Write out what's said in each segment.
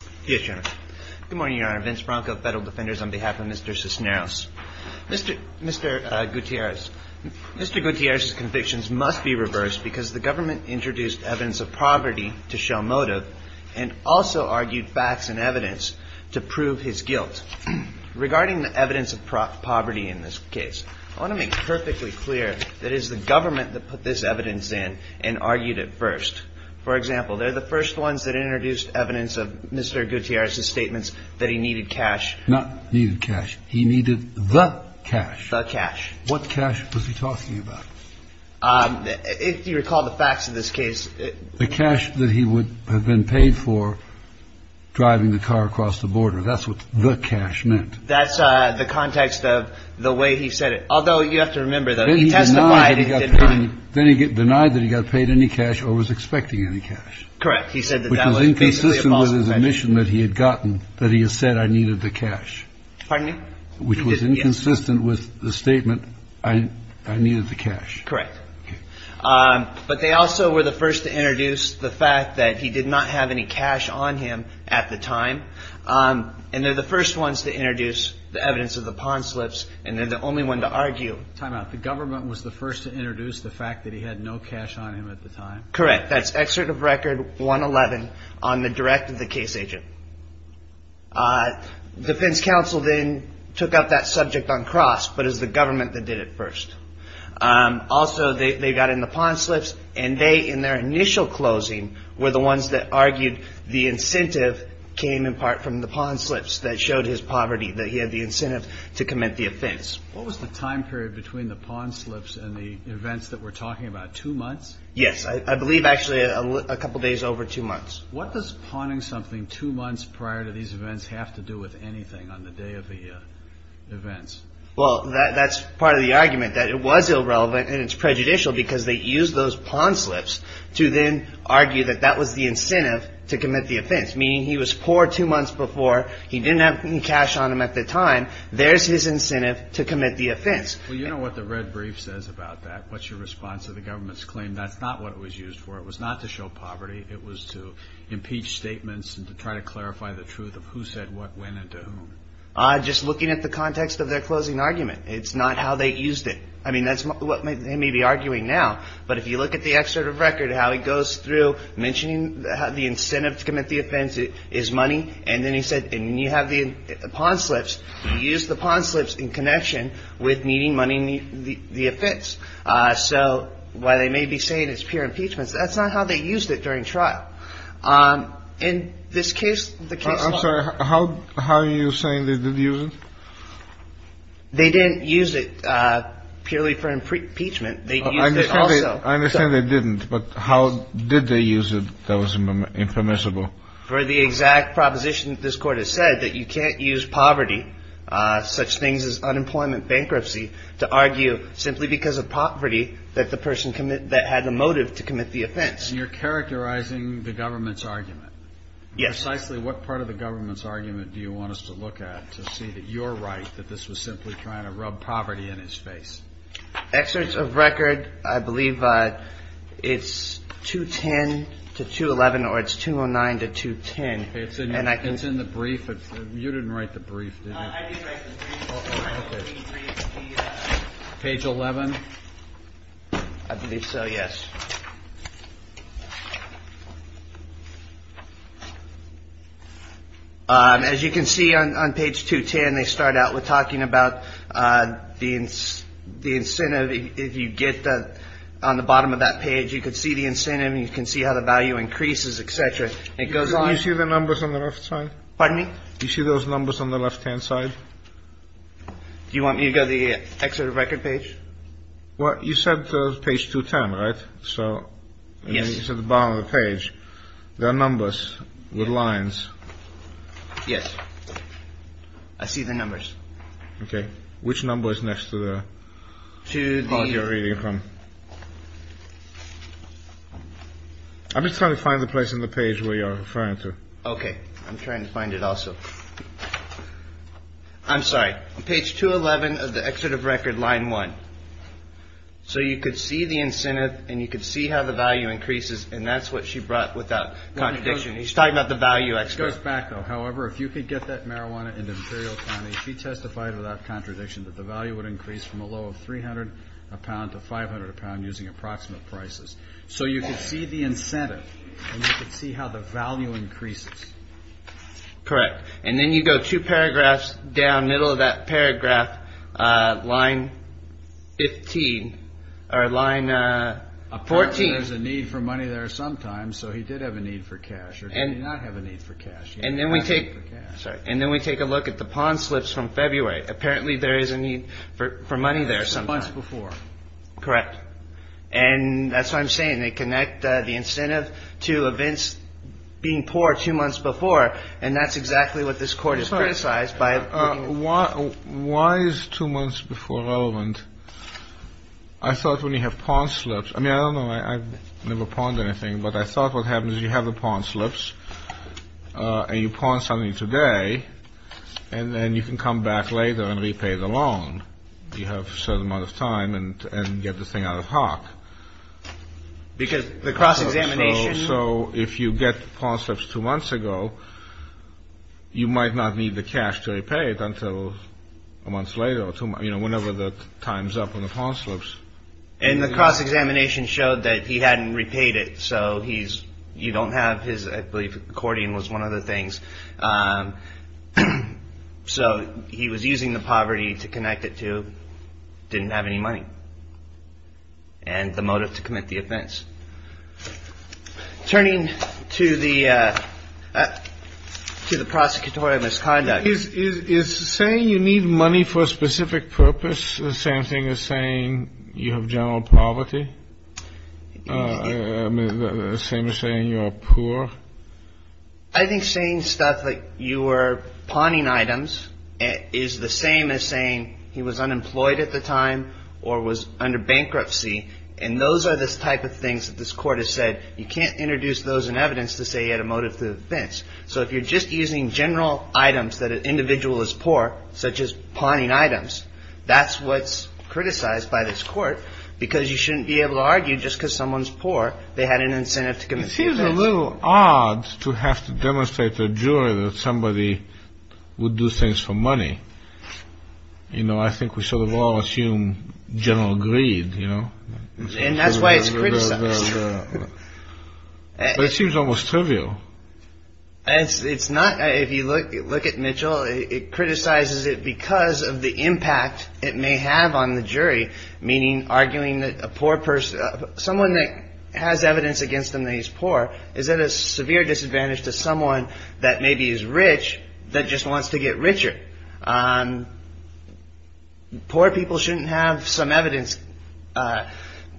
Mr. Gutierrez's convictions must be reversed because the government introduced evidence of poverty to show motive and also argued facts and evidence to prove his guilt. Regarding the evidence of poverty in this case, I want to make perfectly clear that it is the government that put this evidence in and argued it first. For example, they're the first ones that introduced evidence of Mr. Gutierrez's statements that he needed cash. Not needed cash. He needed the cash. The cash. What cash was he talking about? If you recall the facts of this case... The cash that he would have been paid for driving the car across the border. That's what the cash meant. That's the context of the way he said it. Although you have to remember that he testified... Then he denied that he got paid any cash or was expecting any cash. Which was inconsistent with his admission that he had gotten that he had said I needed the cash. Pardon me? Which was inconsistent with the statement I needed the cash. Correct. But they also were the first to introduce the fact that he did not have any cash on him at the time. And they're the first ones to introduce the evidence of the pond slips and they're the only one to argue... Time out. The government was the first to introduce the fact that he had no cash on him at the time? Correct. That's excerpt of record 111 on the direct of the case agent. Defense counsel then took up that subject on cross but it was the government that did it first. Also they got in the pond slips and they in their initial closing... Were the ones that argued the incentive came in part from the pond slips that showed his poverty. That he had the incentive to commit the offense. What was the time period between the pond slips and the events that we're talking about? Two months? Yes. I believe actually a couple days over two months. What does ponding something two months prior to these events have to do with anything on the day of the events? Well that's part of the argument that it was irrelevant and it's prejudicial because they used those pond slips... to then argue that that was the incentive to commit the offense. Meaning he was poor two months before, he didn't have any cash on him at the time. There's his incentive to commit the offense. Well you know what the red brief says about that. What's your response to the government's claim? That's not what it was used for. It was not to show poverty. It was to impeach statements and to try to clarify the truth of who said what, when and to whom. Just looking at the context of their closing argument. It's not how they used it. I mean that's what he may be arguing now. But if you look at the excerpt of record how he goes through mentioning the incentive to commit the offense is money. And then he said when you have the pond slips, you use the pond slips in connection with needing money in the offense. So while they may be saying it's pure impeachment, that's not how they used it during trial. In this case... I'm sorry, how are you saying they did use it? They didn't use it purely for impeachment. I understand they didn't, but how did they use it that was impermissible? For the exact proposition that this court has said, that you can't use poverty, such things as unemployment bankruptcy, to argue simply because of poverty that the person had the motive to commit the offense. You're characterizing the government's argument. Yes. Precisely what part of the government's argument do you want us to look at to see that you're right, that this was simply trying to rub poverty in his face? Excerpts of record, I believe it's 210 to 211 or it's 209 to 210. It's in the brief. You didn't write the brief, did you? I did write the brief. Page 11? I believe so, yes. As you can see on page 210, they start out with talking about the incentive. If you get on the bottom of that page, you can see the incentive and you can see how the value increases, etc. Can you see the numbers on the left side? Pardon me? Do you see those numbers on the left-hand side? Do you want me to go to the excerpt of record page? Well, you said page 210, right? Yes. You said at the bottom of the page, there are numbers with lines. Yes. I see the numbers. Okay. Which number is next to the part you're reading from? I'm just trying to find the place on the page where you're referring to. Okay. I'm trying to find it also. I'm sorry. Page 211 of the excerpt of record, line 1. So you could see the incentive and you could see how the value increases and that's what she brought without contradiction. She's talking about the value. It goes back though. However, if you could get that marijuana into Imperial County, she testified without contradiction that the value would increase from a low of 300 a pound to 500 a pound using approximate prices. So you can see the incentive and you can see how the value increases. Correct. And then you go two paragraphs down, middle of that paragraph, line 15 or line 14. Apparently there's a need for money there sometimes. So he did have a need for cash or did he not have a need for cash? And then we take a look at the pawn slips from February. Apparently there is a need for money there sometimes. That's two months before. Correct. And that's what I'm saying. They connect the incentive to events being poor two months before. And that's exactly what this court is criticized by. Why is two months before relevant? I thought when you have pawn slips. I mean, I don't know. I've never pawned anything, but I thought what happens is you have the pawn slips and you pawn something today. And then you can come back later and repay the loan. You have a certain amount of time and get the thing out of hock. Because the cross-examination. So if you get pawn slips two months ago, you might not need the cash to repay it until a month later. You know, whenever the time's up on the pawn slips. And the cross-examination showed that he hadn't repaid it. So you don't have his. I believe accordion was one of the things. So he was using the poverty to connect it to didn't have any money. And the motive to commit the offense. Turning to the to the prosecutorial misconduct. Is saying you need money for a specific purpose. The same thing as saying you have general poverty. Same as saying you are poor. I think saying stuff like you were pawning items is the same as saying he was unemployed at the time. Or was under bankruptcy. And those are the type of things that this court has said. You can't introduce those in evidence to say you had a motive to the offense. So if you're just using general items that an individual is poor. Such as pawning items. That's what's criticized by this court. Because you shouldn't be able to argue just because someone's poor. They had an incentive to commit the offense. It seems a little odd to have to demonstrate to a jury that somebody would do things for money. You know I think we should all assume general greed. And that's why it's criticized. It seems almost trivial. It's not. If you look at Mitchell. It criticizes it because of the impact it may have on the jury. Meaning arguing that a poor person. Someone that has evidence against them that he's poor. Is at a severe disadvantage to someone that maybe is rich. That just wants to get richer. Poor people shouldn't have some evidence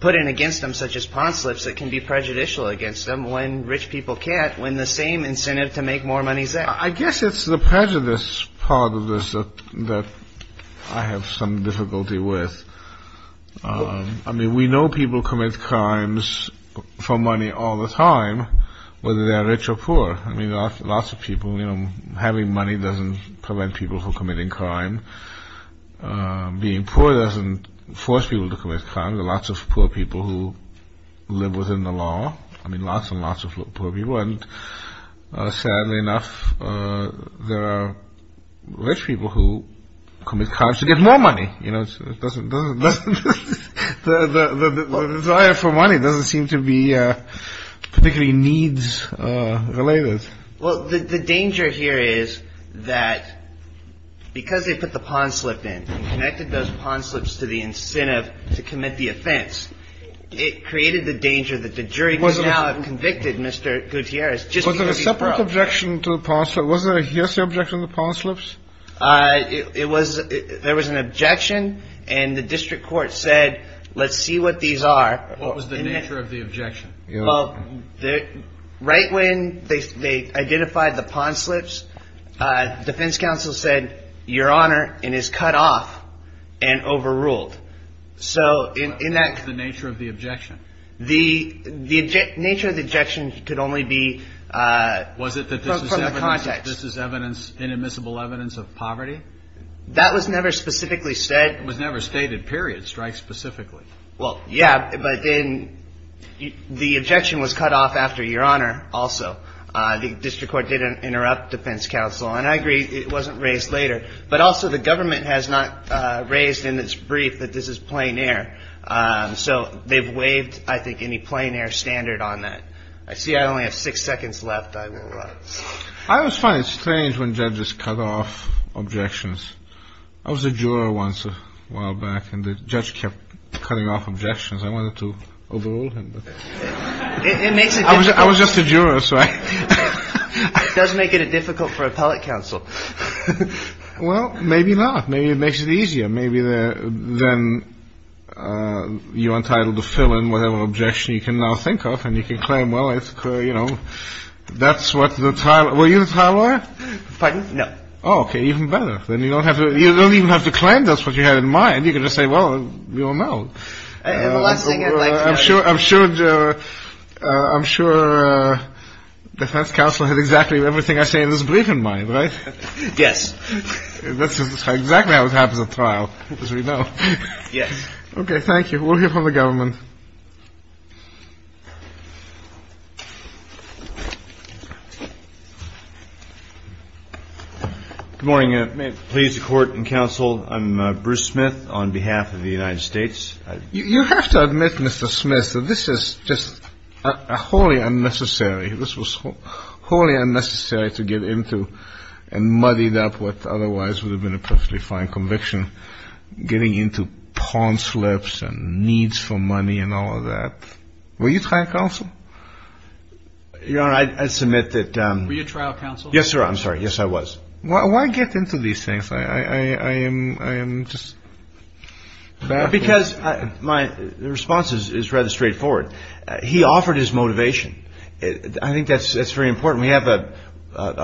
put in against them. Such as pawn slips that can be prejudicial against them. When rich people can't. When the same incentive to make more money is there. I guess it's the prejudice part of this that I have some difficulty with. I mean we know people commit crimes for money all the time. Whether they are rich or poor. I mean lots of people. Having money doesn't prevent people from committing crime. Being poor doesn't force people to commit crimes. There are lots of poor people who live within the law. I mean lots and lots of poor people. And sadly enough. There are rich people who commit crimes to get more money. The desire for money doesn't seem to be particularly needs related. Well the danger here is that because they put the pawn slip in. And connected those pawn slips to the incentive to commit the offense. It created the danger that the jury would now have convicted Mr. Gutierrez. Was there a separate objection to the pawn slips? Was there a hearsay objection to the pawn slips? There was an objection. And the district court said let's see what these are. What was the nature of the objection? Well right when they identified the pawn slips. Defense counsel said your honor. And is cut off. And overruled. What was the nature of the objection? The nature of the objection could only be from the context. Was it that this is evidence. This is evidence. Inadmissible evidence of poverty? That was never specifically said. It was never stated. Period. Strike specifically. Well yeah. But the objection was cut off after your honor also. The district court didn't interrupt defense counsel. And I agree it wasn't raised later. But also the government has not raised in its brief that this is plein air. So they've waived I think any plein air standard on that. I see I only have six seconds left. I will rise. I always find it strange when judges cut off objections. I was a juror once a while back. And the judge kept cutting off objections. I wanted to overrule him. It makes it difficult. I was just a juror. It does make it difficult for appellate counsel. Well maybe not. Maybe it makes it easier. Maybe then you're entitled to fill in whatever objection you can now think of. And you can claim well that's what the trial. Were you the trial lawyer? Pardon? No. Oh okay. Even better. Then you don't even have to claim that's what you had in mind. You can just say well you don't know. I'm sure defense counsel had exactly everything I say in this brief in mind. Yes. That's exactly what happens at trial as we know. Yes. Okay thank you. We'll hear from the government. Good morning. May it please the court and counsel. I'm Bruce Smith on behalf of the United States. You have to admit Mr. Smith that this is just wholly unnecessary. This was wholly unnecessary to get into and muddied up what otherwise would have been a perfectly fine conviction. Getting into pawn slips and needs for money and all of that. Were you trial counsel? Your Honor I submit that. Were you trial counsel? Yes sir I'm sorry. Yes I was. Why get into these things? I am just. Because my response is rather straightforward. He offered his motivation. I think that's very important. We have a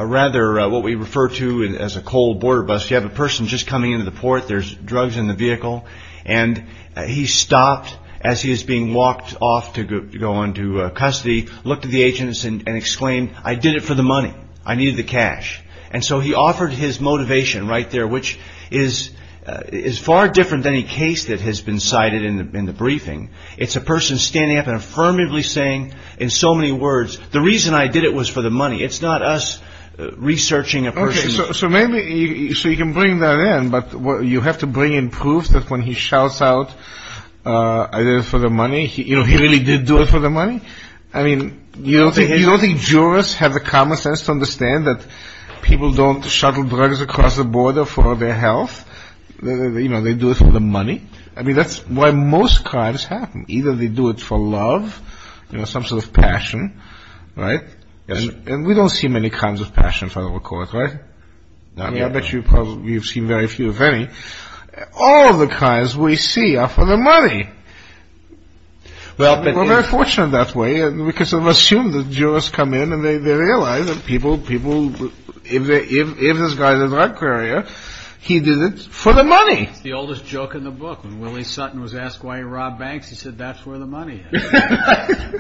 rather what we refer to as a cold border bust. You have a person just coming into the port. There's drugs in the vehicle. And he stopped as he is being walked off to go into custody. Looked at the agents and exclaimed I did it for the money. I needed the cash. And so he offered his motivation right there which is far different than any case that has been cited in the briefing. It's a person standing up and affirmatively saying in so many words the reason I did it was for the money. It's not us researching a person. So maybe so you can bring that in. But you have to bring in proof that when he shouts out I did it for the money. You know he really did do it for the money. I mean you don't think jurors have the common sense to understand that people don't shuttle drugs across the border for their health. You know they do it for the money. I mean that's why most crimes happen. Either they do it for love. You know some sort of passion. Right. And we don't see many kinds of passion for the record. Right. I mean I bet you probably you've seen very few if any. All the crimes we see are for the money. Well we're very fortunate that way because we assume the jurors come in and they realize that people if this guy is a drug courier he did it for the money. It's the oldest joke in the book. When Willie Sutton was asked why he robbed banks he said that's where the money is.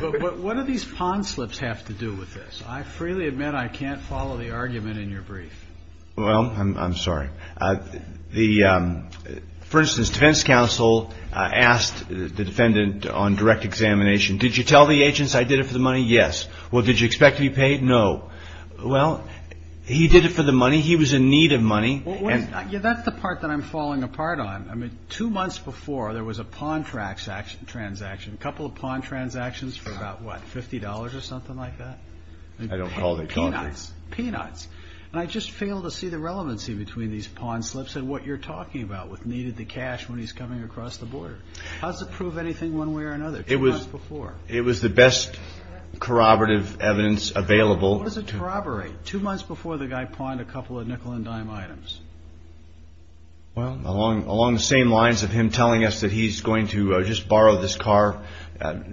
But what do these pond slips have to do with this? I freely admit I can't follow the argument in your brief. Well I'm sorry. For instance defense counsel asked the defendant on direct examination did you tell the agents I did it for the money? Yes. Well did you expect to be paid? No. Well he did it for the money. He was in need of money. That's the part that I'm falling apart on. Two months before there was a pond transaction. A couple of pond transactions for about what? $50 or something like that? I don't call it a contract. Peanuts. And I just fail to see the relevancy between these pond slips and what you're talking about with needed the cash when he's coming across the border. How does it prove anything one way or another two months before? It was the best corroborative evidence available. What does it corroborate? Two months before the guy pawned a couple of nickel and dime items. Well along the same lines of him telling us that he's going to just borrow this car,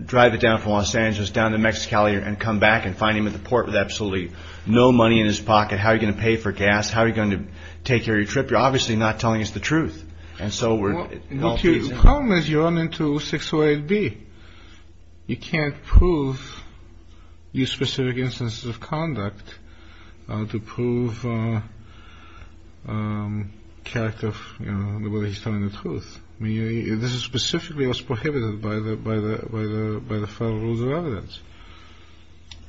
drive it down from Los Angeles down to Mexicali and come back and find him at the port with absolutely no money in his pocket. How are you going to pay for gas? How are you going to take care of your trip? You're obviously not telling us the truth. And so we're. The problem is you run into 608B. You can't use specific instances of conduct to prove whether he's telling the truth. This is specifically what's prohibited by the Federal Rules of Evidence.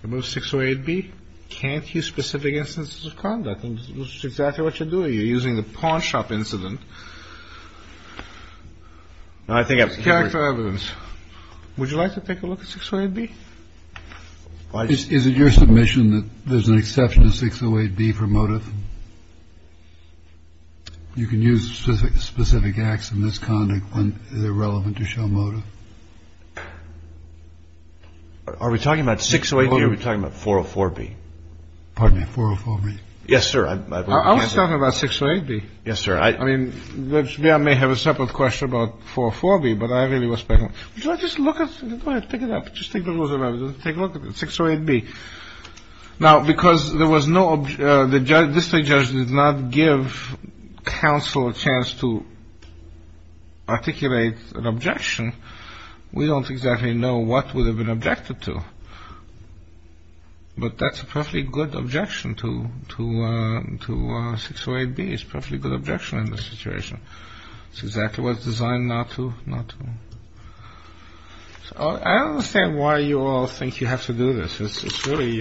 You move 608B, you can't use specific instances of conduct. I think that's exactly what you're doing. You're using the pawn shop incident. I think it's character evidence. Would you like to take a look at 608B? Is it your submission that there's an exception to 608B for motive? You can use specific specific acts of misconduct when they're relevant to show motive. Are we talking about 608B or are we talking about 404B? Pardon me, 404B. Yes, sir. I was talking about 608B. Yes, sir. I mean, I may have a separate question about 404B, but I really was speculating. Would you like to just look at it? Go ahead. Pick it up. Just take a look at it. Take a look at 608B. Now, because there was no – the district judge did not give counsel a chance to articulate an objection, we don't exactly know what would have been objected to. But that's a perfectly good objection to 608B. It's a perfectly good objection in this situation. It's exactly what it's designed not to. I don't understand why you all think you have to do this. It's really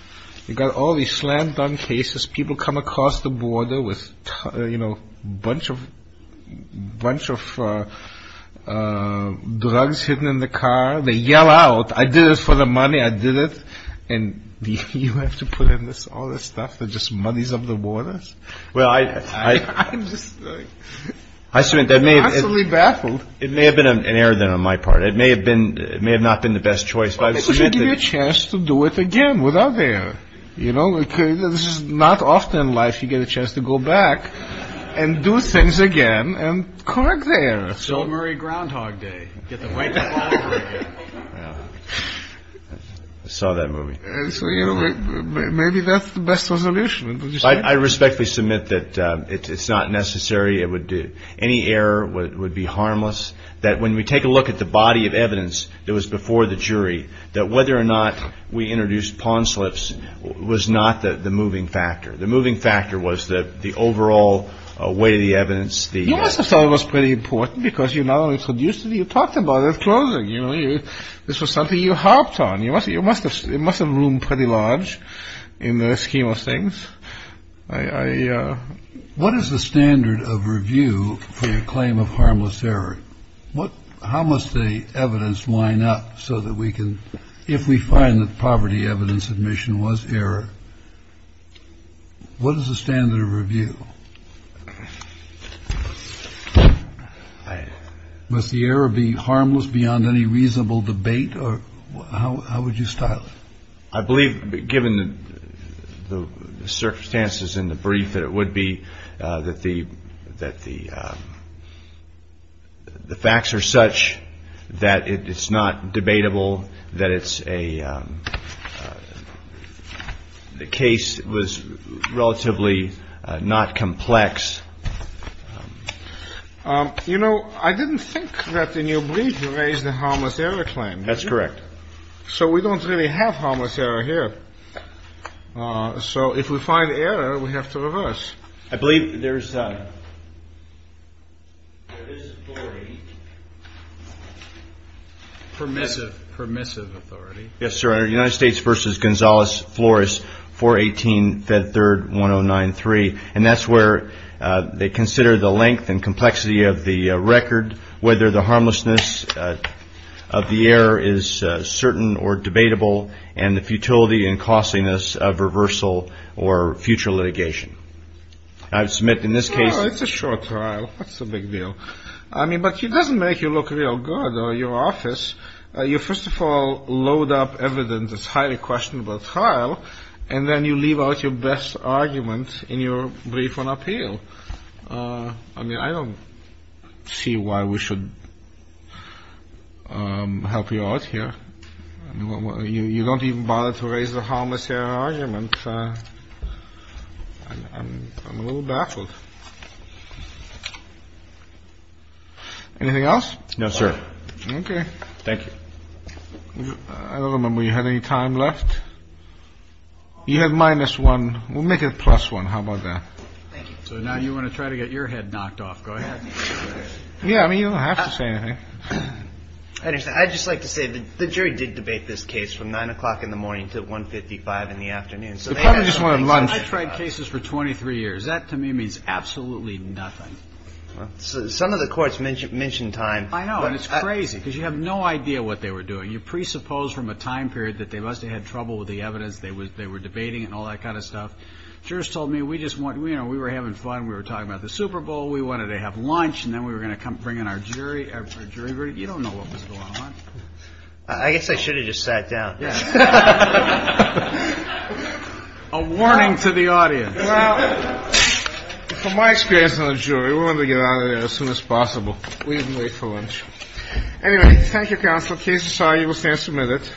– you've got all these slam-dunk cases. People come across the border with a bunch of drugs hidden in the car. They yell out, I did it for the money. I did it. And you have to put in all this stuff that just muddies up the waters? Well, I – I'm just absolutely baffled. It may have been an error, then, on my part. It may have been – it may have not been the best choice. Why don't you give me a chance to do it again without the error? You know, this is not often in life you get a chance to go back and do things again and correct the error. It's Bill Murray Groundhog Day. Get the White Claw over again. I saw that movie. So, you know, maybe that's the best resolution. Would you say? I respectfully submit that it's not necessary. It would – any error would be harmless. That when we take a look at the body of evidence that was before the jury, that whether or not we introduced pawn slips was not the moving factor. The moving factor was the overall weight of the evidence. You must have thought it was pretty important because you not only introduced it, you talked about it at closing. This was something you harped on. It must have roomed pretty large in the scheme of things. What is the standard of review for the claim of harmless error? How must the evidence line up so that we can – if we find that poverty evidence admission was error, what is the standard of review? Must the error be harmless beyond any reasonable debate, or how would you style it? I believe, given the circumstances in the brief, that it would be that the facts are such that it's not debatable, that it's a – the case was relatively not complex. You know, I didn't think that in your brief you raised the harmless error claim. That's correct. So we don't really have harmless error here. So if we find error, we have to reverse. I believe there is authority. Permissive, permissive authority. Yes, sir. United States v. Gonzales Flores, 418 Fed 3rd 1093. And that's where they consider the length and complexity of the record, whether the harmlessness of the error is certain or debatable, and the futility and costliness of reversal or future litigation. I submit in this case – It's a short trial. What's the big deal? I mean, but it doesn't make you look real good or your office. You first of all load up evidence that's highly questionable trial, and then you leave out your best argument in your brief on appeal. I mean, I don't see why we should help you out here. You don't even bother to raise the harmless error argument. I'm a little baffled. Anything else? No, sir. Okay. Thank you. I don't remember you had any time left. You had minus one. We'll make it plus one. How about that? So now you want to try to get your head knocked off. Go ahead. Yeah. I mean, you don't have to say anything. I just like to say that the jury did debate this case from 9 o'clock in the morning to 155 in the afternoon. The court just wanted lunch. I've tried cases for 23 years. That to me means absolutely nothing. Some of the courts mentioned time. I know, and it's crazy because you have no idea what they were doing. You presuppose from a time period that they must have had trouble with the evidence. They were debating it and all that kind of stuff. Jurors told me we just want – we were having fun. We were talking about the Super Bowl. We wanted to have lunch, and then we were going to come bring in our jury. You don't know what was going on. I guess I should have just sat down. Yeah. A warning to the audience. Well, from my experience on the jury, we wanted to get out of there as soon as possible. We didn't wait for lunch. Anyway, thank you, counsel. The case is signed. You will stand for a minute.